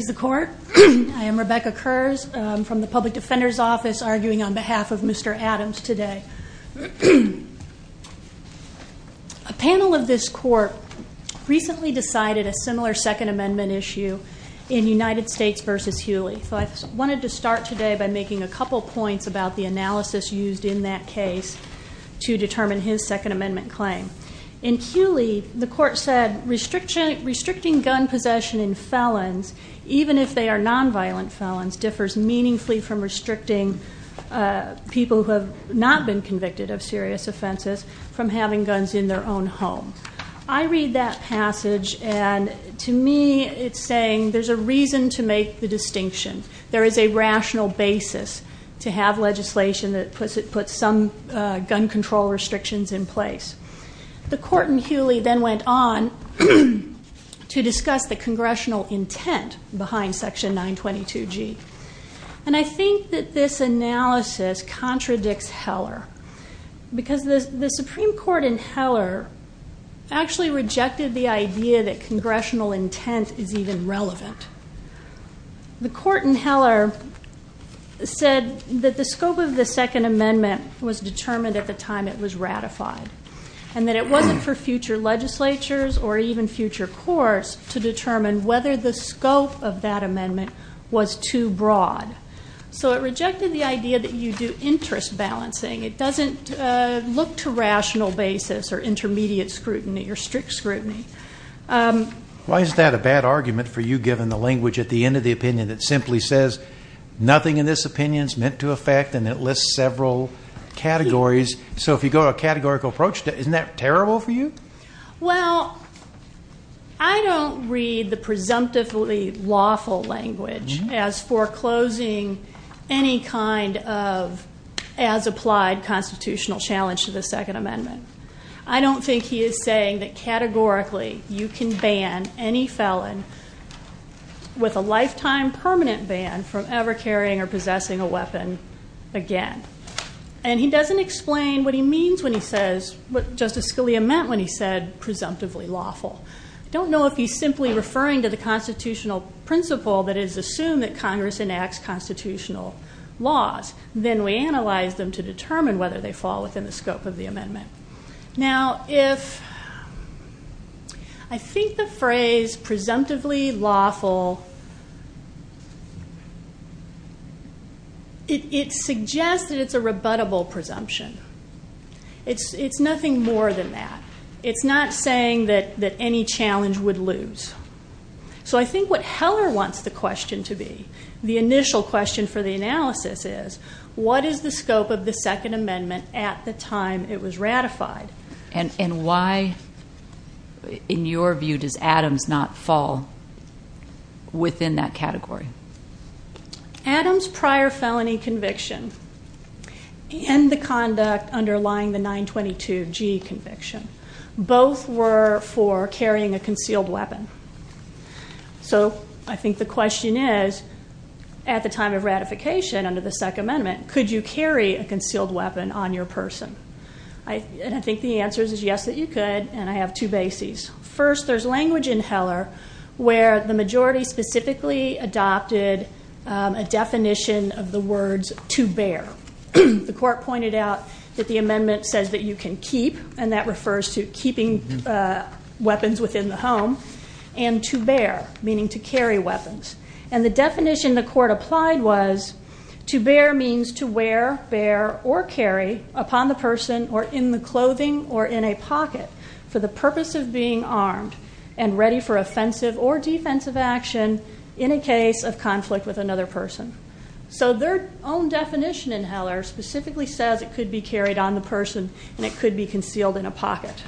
I am Rebecca Kurz from the Public Defender's Office arguing on behalf of Mr. Adams today. A panel of this court recently decided a similar Second Amendment issue in United States v. Hewley. So I wanted to start today by making a couple points about the analysis used in that case to determine his Second Amendment claim. In Hewley, the court said restricting gun possession in felons, even if they are non-violent felons, differs meaningfully from restricting people who have not been convicted of serious offenses from having guns in their own home. I read that passage and to me it's saying there's a reason to make the distinction. There is a rational basis to have legislation that puts some gun control restrictions in place. The court in Hewley then went on to discuss the congressional intent behind Section 922G. And I think that this analysis contradicts Heller. Because the Supreme Court in Heller actually rejected the idea that congressional intent is even relevant. The court in Heller said that the scope of the Second Amendment was determined at the time it was ratified. And that it wasn't for future legislatures or even future courts to determine whether the scope of that amendment was too broad. So it rejected the idea that you do interest balancing. It doesn't look to rational basis or intermediate scrutiny or strict scrutiny. Why is that a bad argument for you given the language at the end of the opinion that simply says, nothing in this opinion is meant to affect and it lists several categories. So if you go to a categorical approach, isn't that terrible for you? Well, I don't read the presumptively lawful language as foreclosing any kind of as applied constitutional challenge to the Second Amendment. I don't think he is saying that categorically you can ban any felon with a lifetime permanent ban from ever carrying or possessing a weapon again. And he doesn't explain what he means when he says, what Justice Scalia meant when he said presumptively lawful. I don't know if he's simply referring to the constitutional principle that is assumed that Congress enacts constitutional laws. Then we analyze them to determine whether they fall within the scope of the amendment. Now, if I think the phrase presumptively lawful, it suggests that it's a rebuttable presumption. It's nothing more than that. It's not saying that any challenge would lose. So I think what Heller wants the question to be, the initial question for the analysis is, what is the scope of the Second Amendment at the time it was ratified? And why, in your view, does Adams not fall within that category? Adams' prior felony conviction and the conduct underlying the 922G conviction, both were for carrying a concealed weapon. So I think the question is, at the time of ratification under the Second Amendment, could you carry a concealed weapon on your person? And I think the answer is yes, that you could, and I have two bases. First, there's language in Heller where the majority specifically adopted a definition of the words to bear. The court pointed out that the amendment says that you can keep, and that refers to keeping weapons within the home, and to bear, meaning to carry weapons. And the definition the court applied was to bear means to wear, bear, or carry upon the person or in the clothing or in a pocket for the purpose of being armed and ready for offensive or defensive action in a case of conflict with another person. So their own definition in Heller specifically says it could be carried on the person and it could be concealed in a pocket.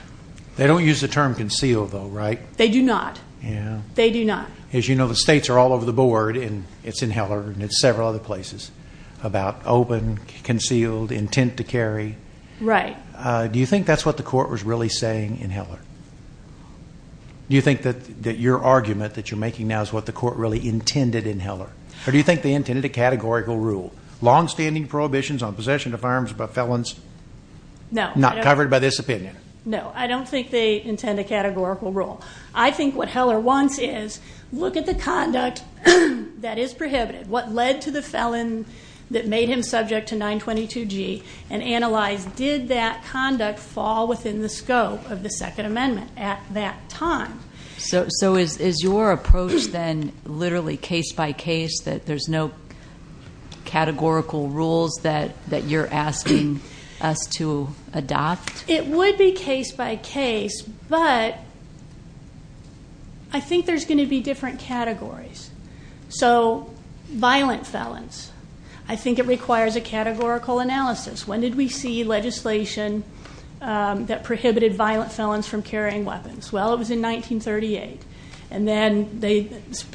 They don't use the term concealed, though, right? They do not. Yeah. They do not. As you know, the states are all over the board, and it's in Heller and it's several other places, about open, concealed, intent to carry. Right. Do you think that's what the court was really saying in Heller? Do you think that your argument that you're making now is what the court really intended in Heller? Or do you think they intended a categorical rule, longstanding prohibitions on possession of arms by felons not covered by this opinion? No. I don't think they intend a categorical rule. I think what Heller wants is look at the conduct that is prohibited, what led to the felon that made him subject to 922G, and analyze did that conduct fall within the scope of the Second Amendment at that time. So is your approach then literally case-by-case, that there's no categorical rules that you're asking us to adopt? It would be case-by-case, but I think there's going to be different categories. So violent felons, I think it requires a categorical analysis. When did we see legislation that prohibited violent felons from carrying weapons? Well, it was in 1938. And then they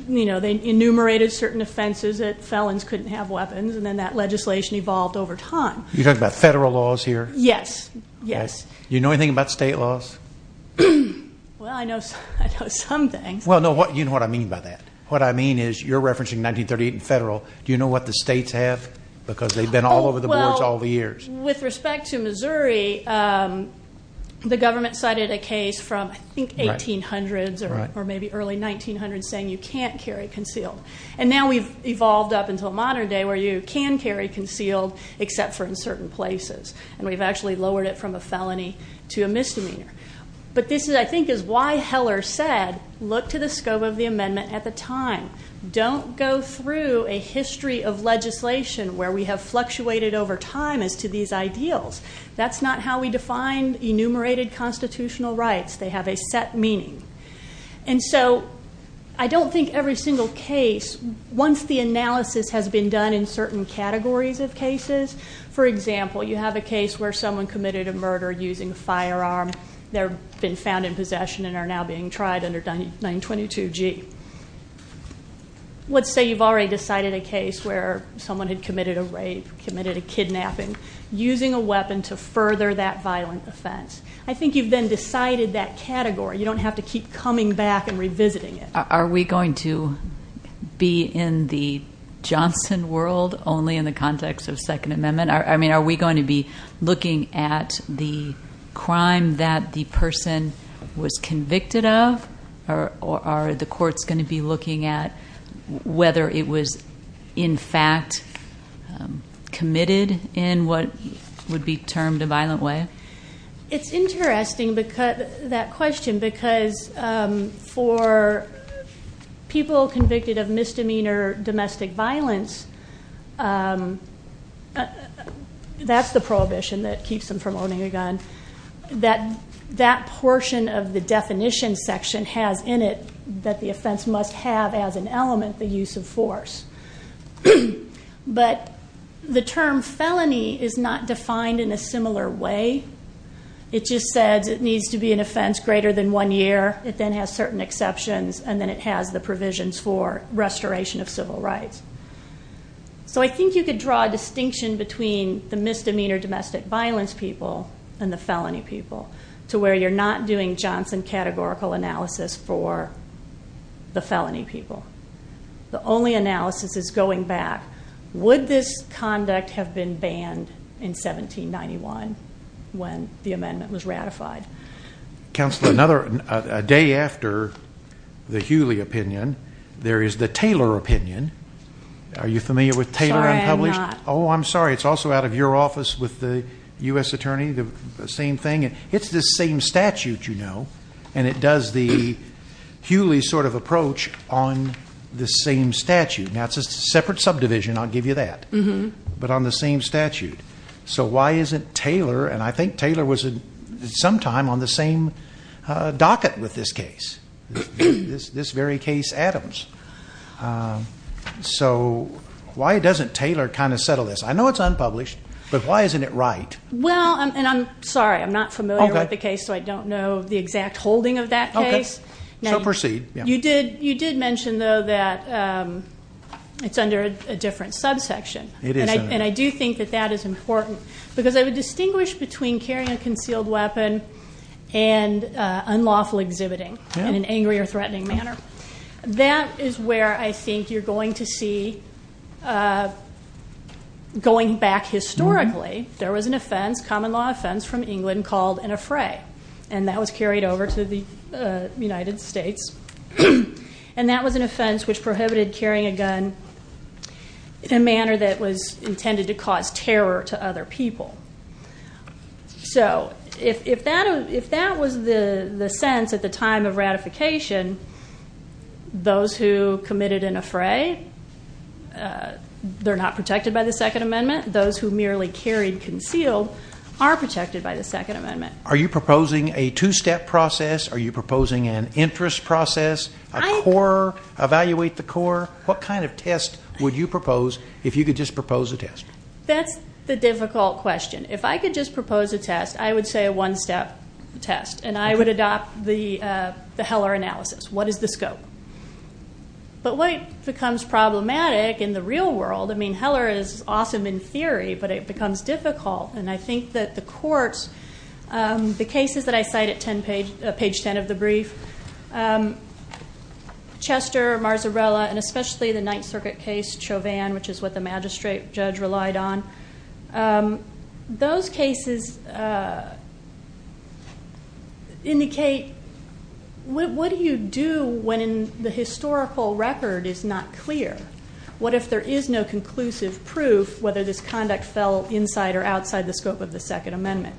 enumerated certain offenses that felons couldn't have weapons, and then that legislation evolved over time. You're talking about federal laws here? Yes, yes. Do you know anything about state laws? Well, I know some things. Well, you know what I mean by that. What I mean is you're referencing 1938 and federal. Do you know what the states have? Because they've been all over the boards all the years. With respect to Missouri, the government cited a case from, I think, 1800s or maybe early 1900s saying you can't carry concealed. And now we've evolved up until modern day where you can carry concealed, except for in certain places. And we've actually lowered it from a felony to a misdemeanor. But this, I think, is why Heller said look to the scope of the amendment at the time. Don't go through a history of legislation where we have fluctuated over time as to these ideals. That's not how we define enumerated constitutional rights. They have a set meaning. And so I don't think every single case, once the analysis has been done in certain categories of cases, for example, you have a case where someone committed a murder using a firearm. They've been found in possession and are now being tried under 922G. Let's say you've already decided a case where someone had committed a rape, committed a kidnapping, using a weapon to further that violent offense. I think you've then decided that category. You don't have to keep coming back and revisiting it. Are we going to be in the Johnson world only in the context of Second Amendment? I mean, are we going to be looking at the crime that the person was convicted of? Are the courts going to be looking at whether it was in fact committed in what would be termed a violent way? It's interesting, that question, because for people convicted of misdemeanor domestic violence, that's the prohibition that keeps them from owning a gun, that that portion of the definition section has in it that the offense must have as an element the use of force. But the term felony is not defined in a similar way. It just says it needs to be an offense greater than one year. It then has certain exceptions, and then it has the provisions for restoration of civil rights. So I think you could draw a distinction between the misdemeanor domestic violence people and the felony people, to where you're not doing Johnson categorical analysis for the felony people. The only analysis is going back. Would this conduct have been banned in 1791 when the amendment was ratified? Counsel, a day after the Hewley opinion, there is the Taylor opinion. Are you familiar with Taylor unpublished? Sorry, I'm not. Oh, I'm sorry. It's also out of your office with the U.S. Attorney, the same thing. It's the same statute, you know, and it does the Hewley sort of approach on the same statute. Now, it's a separate subdivision, I'll give you that, but on the same statute. So why isn't Taylor, and I think Taylor was sometime on the same docket with this case, this very case Adams. So why doesn't Taylor kind of settle this? I know it's unpublished, but why isn't it right? Well, and I'm sorry, I'm not familiar with the case, so I don't know the exact holding of that case. Okay. So proceed. You did mention, though, that it's under a different subsection. It is. And I do think that that is important because I would distinguish between carrying a concealed weapon and unlawful exhibiting in an angry or threatening manner. That is where I think you're going to see, going back historically, there was an offense, common law offense, from England called an affray, and that was carried over to the United States. And that was an offense which prohibited carrying a gun in a manner that was intended to cause terror to other people. So if that was the sense at the time of ratification, those who committed an affray, they're not protected by the Second Amendment. Those who merely carried concealed are protected by the Second Amendment. Are you proposing a two-step process? Are you proposing an interest process, a core, evaluate the core? What kind of test would you propose if you could just propose a test? That's the difficult question. If I could just propose a test, I would say a one-step test, and I would adopt the Heller analysis. What is the scope? But what becomes problematic in the real world, I mean, Heller is awesome in theory, but it becomes difficult, and I think that the courts, the cases that I cite at page 10 of the brief, Chester, Marzarella, and especially the Ninth Circuit case, Chauvin, which is what the magistrate judge relied on, those cases indicate, what do you do when the historical record is not clear? What if there is no conclusive proof whether this conduct fell inside or outside the scope of the Second Amendment?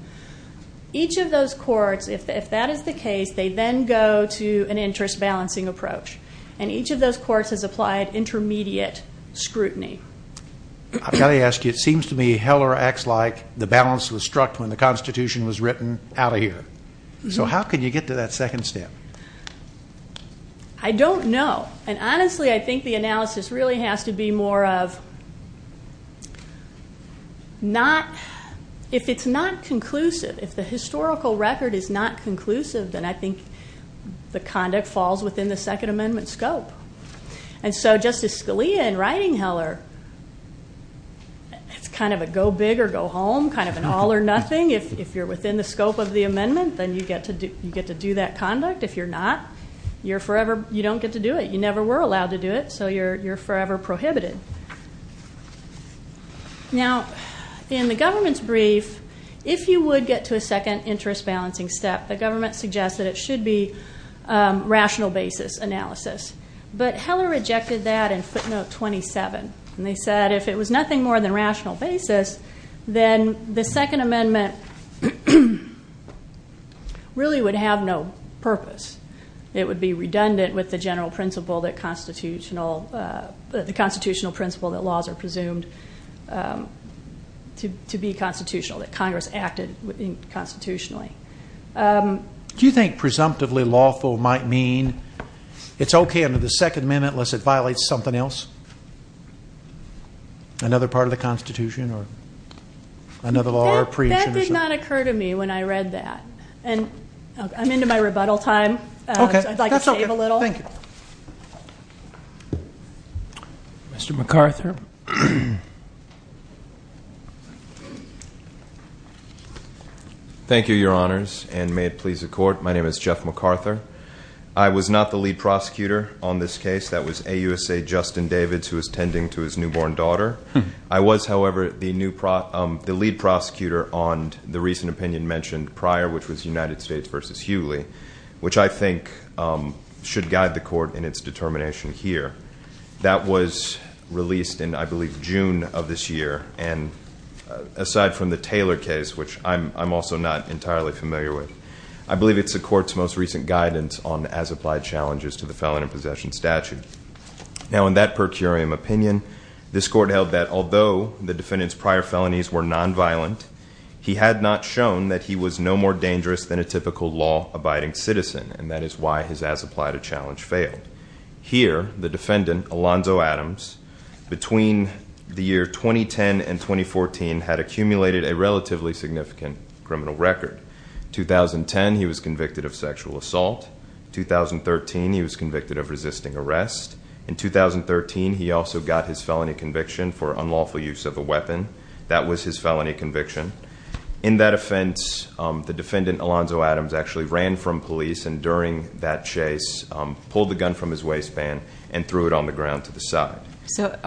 Each of those courts, if that is the case, they then go to an interest-balancing approach, and each of those courts has applied intermediate scrutiny. I've got to ask you, it seems to me Heller acts like the balance was struck when the Constitution was written, out of here. So how can you get to that second step? I don't know. And honestly, I think the analysis really has to be more of not, if it's not conclusive, if the historical record is not conclusive, then I think the conduct falls within the Second Amendment scope. And so Justice Scalia, in writing Heller, it's kind of a go big or go home, kind of an all or nothing. If you're within the scope of the amendment, then you get to do that conduct. If you're not, you don't get to do it. You never were allowed to do it, so you're forever prohibited. Now, in the government's brief, if you would get to a second interest-balancing step, the government suggests that it should be rational basis analysis. But Heller rejected that in footnote 27, and they said if it was nothing more than rational basis, then the Second Amendment really would have no purpose. It would be redundant with the constitutional principle that laws are presumed to be constitutional, that Congress acted constitutionally. Do you think presumptively lawful might mean it's okay under the Second Amendment unless it violates something else? Another part of the Constitution or another law or appreciation? That did not occur to me when I read that. And I'm into my rebuttal time. Okay. I'd like to save a little. Thank you. Mr. McArthur. Thank you, Your Honors, and may it please the Court. My name is Jeff McArthur. I was not the lead prosecutor on this case. That was AUSA Justin Davids, who was tending to his newborn daughter. I was, however, the lead prosecutor on the recent opinion mentioned prior, which was United States v. Hughley, which I think should guide the Court in its determination here. That was released in, I believe, June of this year. And aside from the Taylor case, which I'm also not entirely familiar with, I believe it's the Court's most recent guidance on as-applied challenges to the Felony Possession Statute. Now, in that per curiam opinion, this Court held that although the defendant's prior felonies were nonviolent, he had not shown that he was no more dangerous than a typical law-abiding citizen, and that is why his as-applied challenge failed. Here, the defendant, Alonzo Adams, between the year 2010 and 2014, had accumulated a relatively significant criminal record. 2010, he was convicted of sexual assault. 2013, he was convicted of resisting arrest. In 2013, he also got his felony conviction for unlawful use of a weapon. That was his felony conviction. In that offense, the defendant, Alonzo Adams, actually ran from police, and during that chase, pulled the gun from his waistband and threw it on the ground to the side. So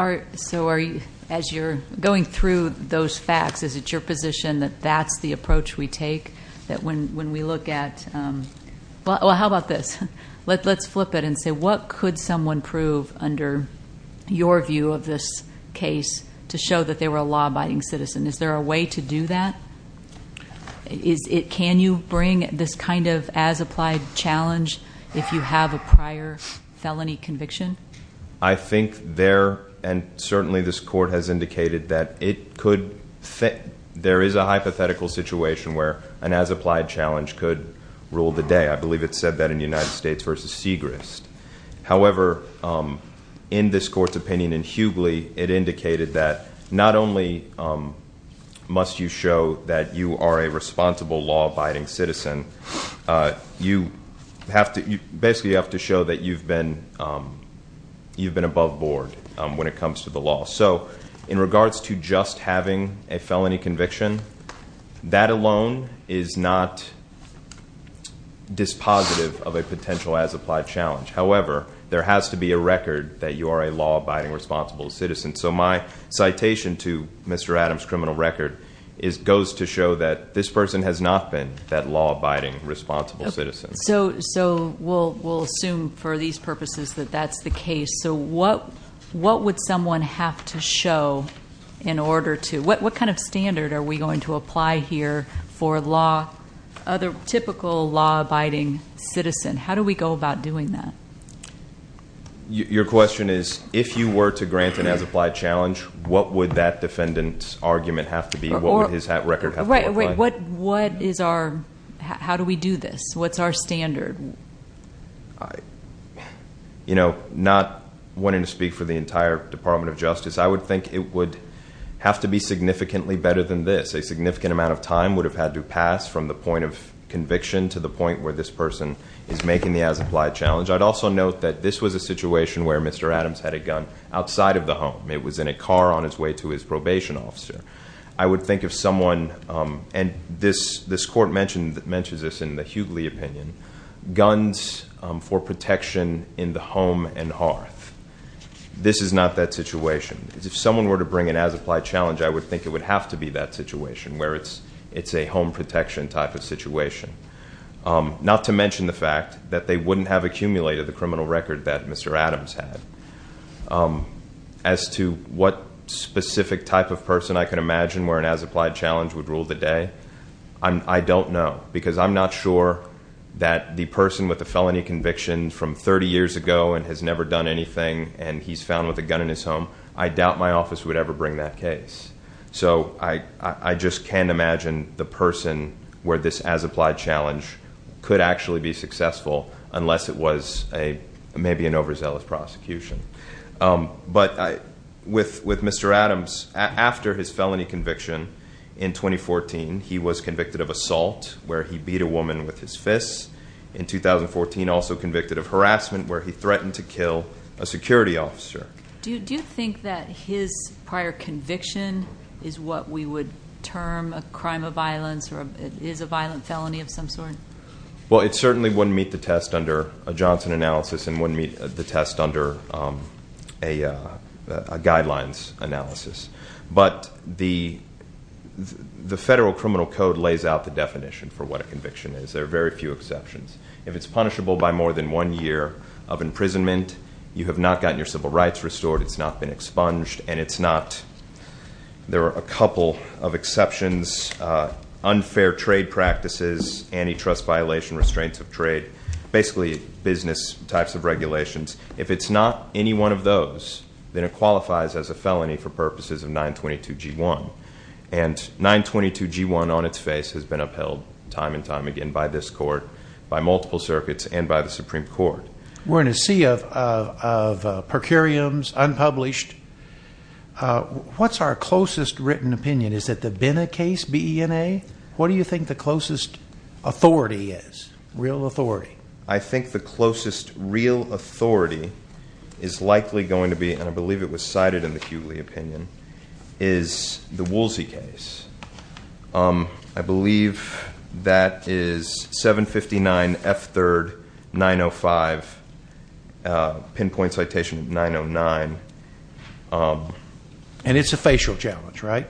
as you're going through those facts, is it your position that that's the approach we take? That when we look at, well, how about this? Let's flip it and say, what could someone prove under your view of this case to show that they were a law-abiding citizen? Is there a way to do that? Can you bring this kind of as-applied challenge if you have a prior felony conviction? I think there, and certainly this court has indicated that it could fit. There is a hypothetical situation where an as-applied challenge could rule the day. I believe it said that in United States v. Segrist. However, in this court's opinion, and hugely, it indicated that not only must you show that you are a responsible law-abiding citizen, you basically have to show that you've been above board when it comes to the law. So in regards to just having a felony conviction, that alone is not dispositive of a potential as-applied challenge. However, there has to be a record that you are a law-abiding responsible citizen. So my citation to Mr. Adams' criminal record goes to show that this person has not been that law-abiding responsible citizen. So we'll assume for these purposes that that's the case. So what would someone have to show in order to, what kind of standard are we going to apply here for a typical law-abiding citizen? How do we go about doing that? Your question is, if you were to grant an as-applied challenge, what would that defendant's argument have to be? What would his record have to look like? Wait, what is our, how do we do this? What's our standard? Not wanting to speak for the entire Department of Justice, I would think it would have to be significantly better than this. A significant amount of time would have had to pass from the point of conviction to the point where this person is making the as-applied challenge. I'd also note that this was a situation where Mr. Adams had a gun outside of the home. It was in a car on its way to his probation officer. I would think if someone, and this court mentions this in the Hughley opinion, guns for protection in the home and hearth. This is not that situation. If someone were to bring an as-applied challenge, I would think it would have to be that situation, where it's a home protection type of situation. Not to mention the fact that they wouldn't have accumulated the criminal record that Mr. Adams had. As to what specific type of person I can imagine where an as-applied challenge would rule the day, I don't know. Because I'm not sure that the person with the felony conviction from 30 years ago and has never done anything and he's found with a gun in his home. I doubt my office would ever bring that case. So I just can't imagine the person where this as-applied challenge could actually be successful unless it was maybe an overzealous prosecution. But with Mr. Adams, after his felony conviction in 2014, he was convicted of assault where he beat a woman with his fists. In 2014, also convicted of harassment where he threatened to kill a security officer. Do you think that his prior conviction is what we would term a crime of violence or is a violent felony of some sort? Well, it certainly wouldn't meet the test under a Johnson analysis and wouldn't meet the test under a guidelines analysis. But the Federal Criminal Code lays out the definition for what a conviction is. There are very few exceptions. If it's punishable by more than one year of imprisonment, you have not gotten your civil rights restored. It's not been expunged and it's not, there are a couple of exceptions. Unfair trade practices, antitrust violation, restraints of trade, basically business types of regulations. If it's not any one of those, then it qualifies as a felony for purposes of 922 G1. And 922 G1 on its face has been upheld time and time again by this court, by multiple circuits, and by the Supreme Court. We're in a sea of per curiams, unpublished. What's our closest written opinion? Is it the Bena case, B-E-N-A? What do you think the closest authority is, real authority? I think the closest real authority is likely going to be, and I believe it was cited in the Hughley opinion, is the Woolsey case. I believe that is 759 F3rd 905, pinpoint citation 909. And it's a facial challenge, right?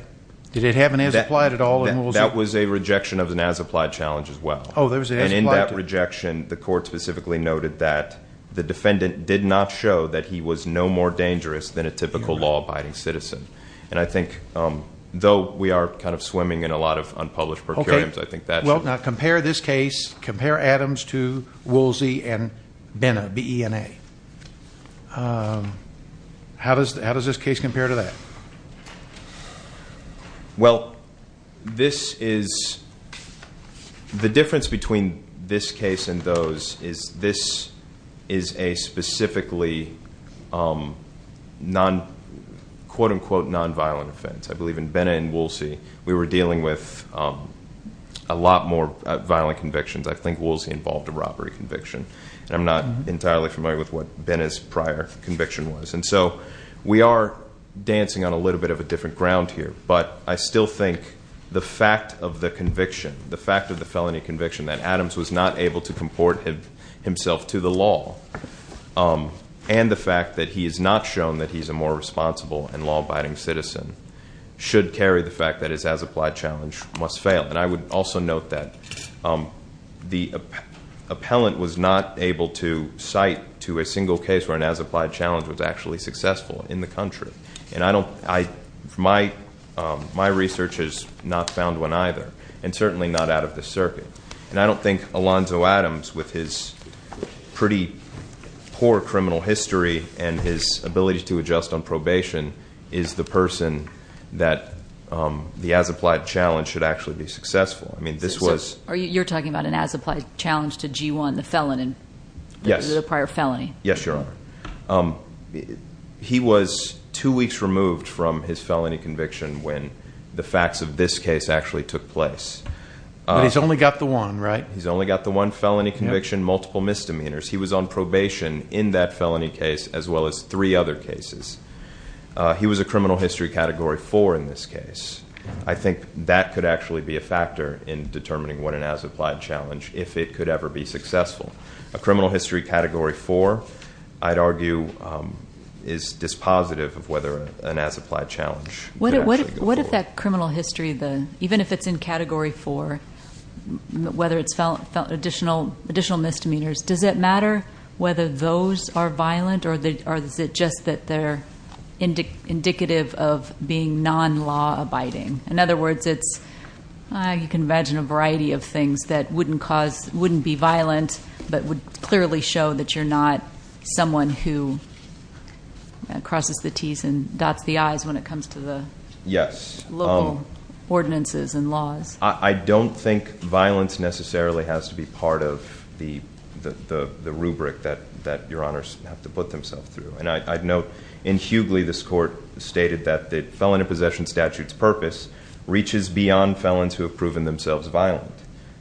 Did it have an as-applied at all in Woolsey? That was a rejection of an as-applied challenge as well. Oh, there was an as-applied challenge. And in that rejection, the court specifically noted that the defendant did not show that he was no more dangerous than a typical law-abiding citizen. And I think, though we are kind of swimming in a lot of unpublished per curiams, I think that's... Well, now compare this case, compare Adams to Woolsey and Bena, B-E-N-A. How does this case compare to that? Well, this is... The difference between this case and those is this is a specifically quote-unquote nonviolent offense. I believe in Bena and Woolsey, we were dealing with a lot more violent convictions. I think Woolsey involved a robbery conviction, and I'm not entirely familiar with what Bena's prior conviction was. And so we are dancing on a little bit of a different ground here, but I still think the fact of the conviction, the fact of the felony conviction that Adams was not able to comport himself to the law, and the fact that he is not shown that he's a more responsible and law-abiding citizen, should carry the fact that his as-applied challenge must fail. And I would also note that the appellant was not able to cite to a single case where an as-applied challenge was actually successful in the country. And I don't... My research has not found one either, and certainly not out of the circuit. And I don't think Alonzo Adams, with his pretty poor criminal history and his ability to adjust on probation, is the person that the as-applied challenge should actually be successful. I mean, this was... So you're talking about an as-applied challenge to G1, the felon in the prior felony? Yes, Your Honor. He was two weeks removed from his felony conviction when the facts of this case actually took place. But he's only got the one, right? He's only got the one felony conviction, multiple misdemeanors. He was on probation in that felony case as well as three other cases. He was a criminal history Category 4 in this case. I think that could actually be a factor in determining what an as-applied challenge, if it could ever be successful. A criminal history Category 4, I'd argue, is dispositive of whether an as-applied challenge could actually go forward. What if that criminal history, even if it's in Category 4, whether it's additional misdemeanors, does it matter whether those are violent or is it just that they're indicative of being non-law abiding? In other words, you can imagine a variety of things that wouldn't be violent but would clearly show that you're not someone who crosses the T's and dots the I's when it comes to the local ordinances and laws. I don't think violence necessarily has to be part of the rubric that Your Honors have to put themselves through. And I'd note, in Hughley, this court stated that the Felony Possession Statute's purpose reaches beyond felons who have proven themselves violent.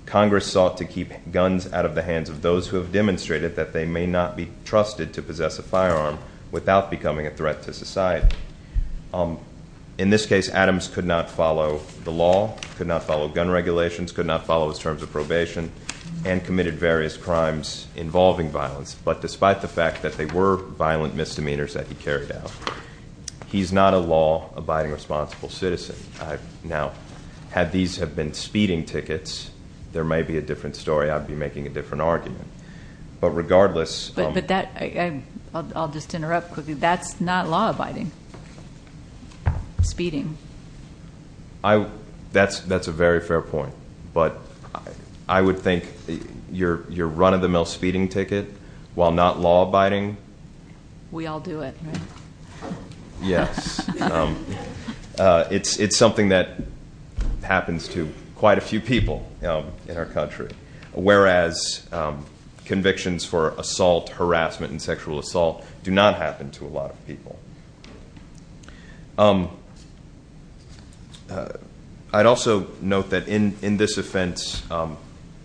Congress sought to keep guns out of the hands of those who have demonstrated that they may not be trusted to possess a firearm without becoming a threat to society. In this case, Adams could not follow the law, could not follow gun regulations, could not follow his terms of probation, and committed various crimes involving violence. But despite the fact that they were violent misdemeanors that he carried out, he's not a law abiding responsible citizen. Now, had these have been speeding tickets, there may be a different story. I'd be making a different argument. But regardless- But that, I'll just interrupt quickly. That's not law abiding, speeding. That's a very fair point. But I would think your run-of-the-mill speeding ticket, while not law abiding- We all do it, right? Yes. It's something that happens to quite a few people in our country. Whereas convictions for assault, harassment, and sexual assault do not happen to a lot of people. I'd also note that in this offense,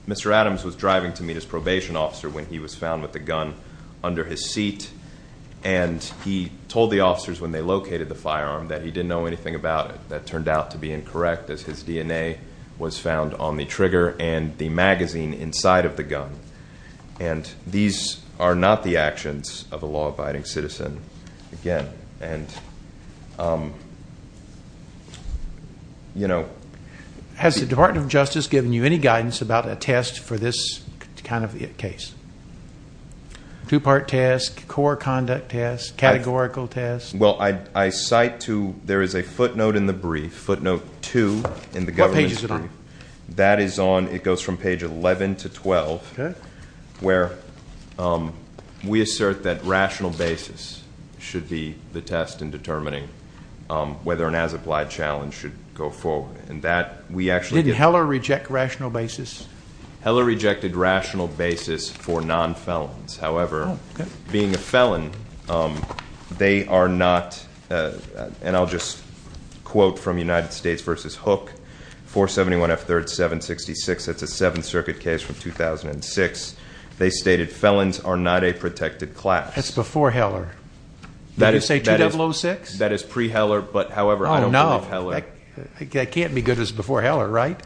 Mr. Adams was driving to meet his probation officer when he was found with a gun under his seat. And he told the officers when they located the firearm that he didn't know anything about it. That turned out to be incorrect, as his DNA was found on the trigger and the magazine inside of the gun. And these are not the actions of a law abiding citizen, again. Has the Department of Justice given you any guidance about a test for this kind of case? Two-part test, core conduct test, categorical test. Well, I cite to, there is a footnote in the brief, footnote two in the government's brief. What page is it on? That is on, it goes from page 11 to 12. Okay. Where we assert that rational basis should be the test in determining whether an as-applied challenge should go forward. And that, we actually- Didn't Heller reject rational basis? Heller rejected rational basis for non-felons. However, being a felon, they are not, and I'll just quote from United States v. Hook, 471F3rd 766. That's a Seventh Circuit case from 2006. They stated felons are not a protected class. That's before Heller. Did you say 2006? That is pre-Heller, but however, I don't believe Heller- Oh, no. That can't be good as before Heller, right?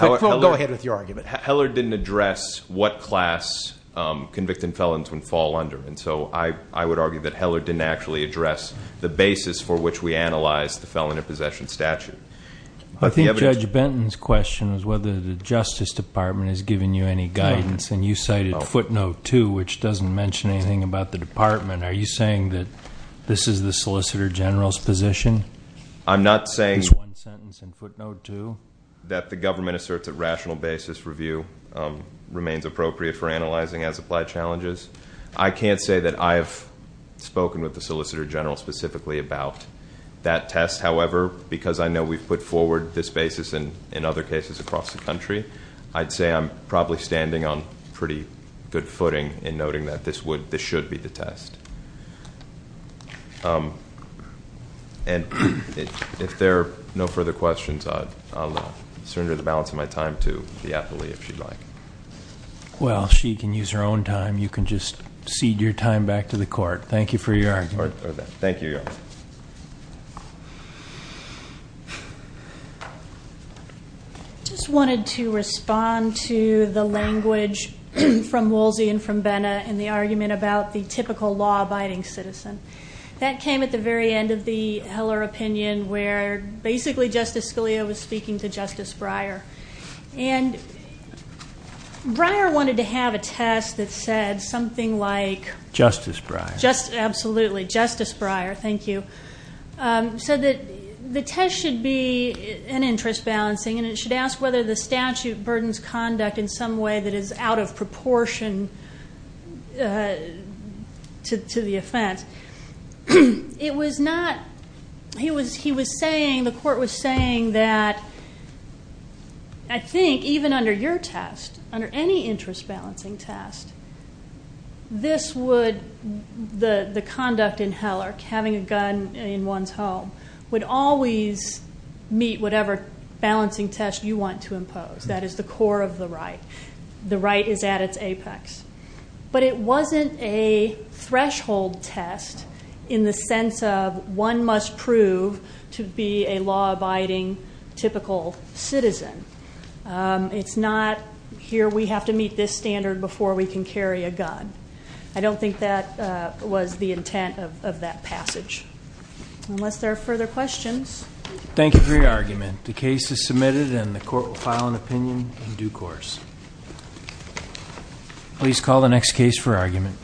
Go ahead with your argument. Heller didn't address what class convicted felons would fall under, and so I would argue that Heller didn't actually address the basis for which we analyzed the felon in possession statute. I think Judge Benton's question was whether the Justice Department has given you any guidance, and you cited footnote two, which doesn't mention anything about the department. Are you saying that this is the Solicitor General's position? I'm not saying- There's one sentence in footnote two. That the government asserts that rational basis review remains appropriate for analyzing as-applied challenges. I can't say that I have spoken with the Solicitor General specifically about that test. However, because I know we've put forward this basis in other cases across the country, I'd say I'm probably standing on pretty good footing in noting that this should be the test. And if there are no further questions, I'll surrender the balance of my time to the appellee if she'd like. Well, she can use her own time. You can just cede your time back to the court. Thank you for your argument. Thank you, Your Honor. I just wanted to respond to the language from Woolsey and from Benna and the argument about the typical law-abiding citizen. That came at the very end of the Heller opinion, where basically Justice Scalia was speaking to Justice Breyer. And Breyer wanted to have a test that said something like- Justice Breyer. Absolutely. Justice Breyer. Thank you. He said that the test should be an interest balancing and it should ask whether the statute burdens conduct in some way that is out of proportion to the offense. It was not-he was saying-the court was saying that, I think, even under your test, under any interest balancing test, this would-the conduct in Heller, having a gun in one's home, would always meet whatever balancing test you want to impose. That is the core of the right. The right is at its apex. But it wasn't a threshold test in the sense of one must prove to be a law-abiding typical citizen. It's not here we have to meet this standard before we can carry a gun. I don't think that was the intent of that passage. Unless there are further questions. Thank you for your argument. The case is submitted and the court will file an opinion in due course. Please call the next case for argument.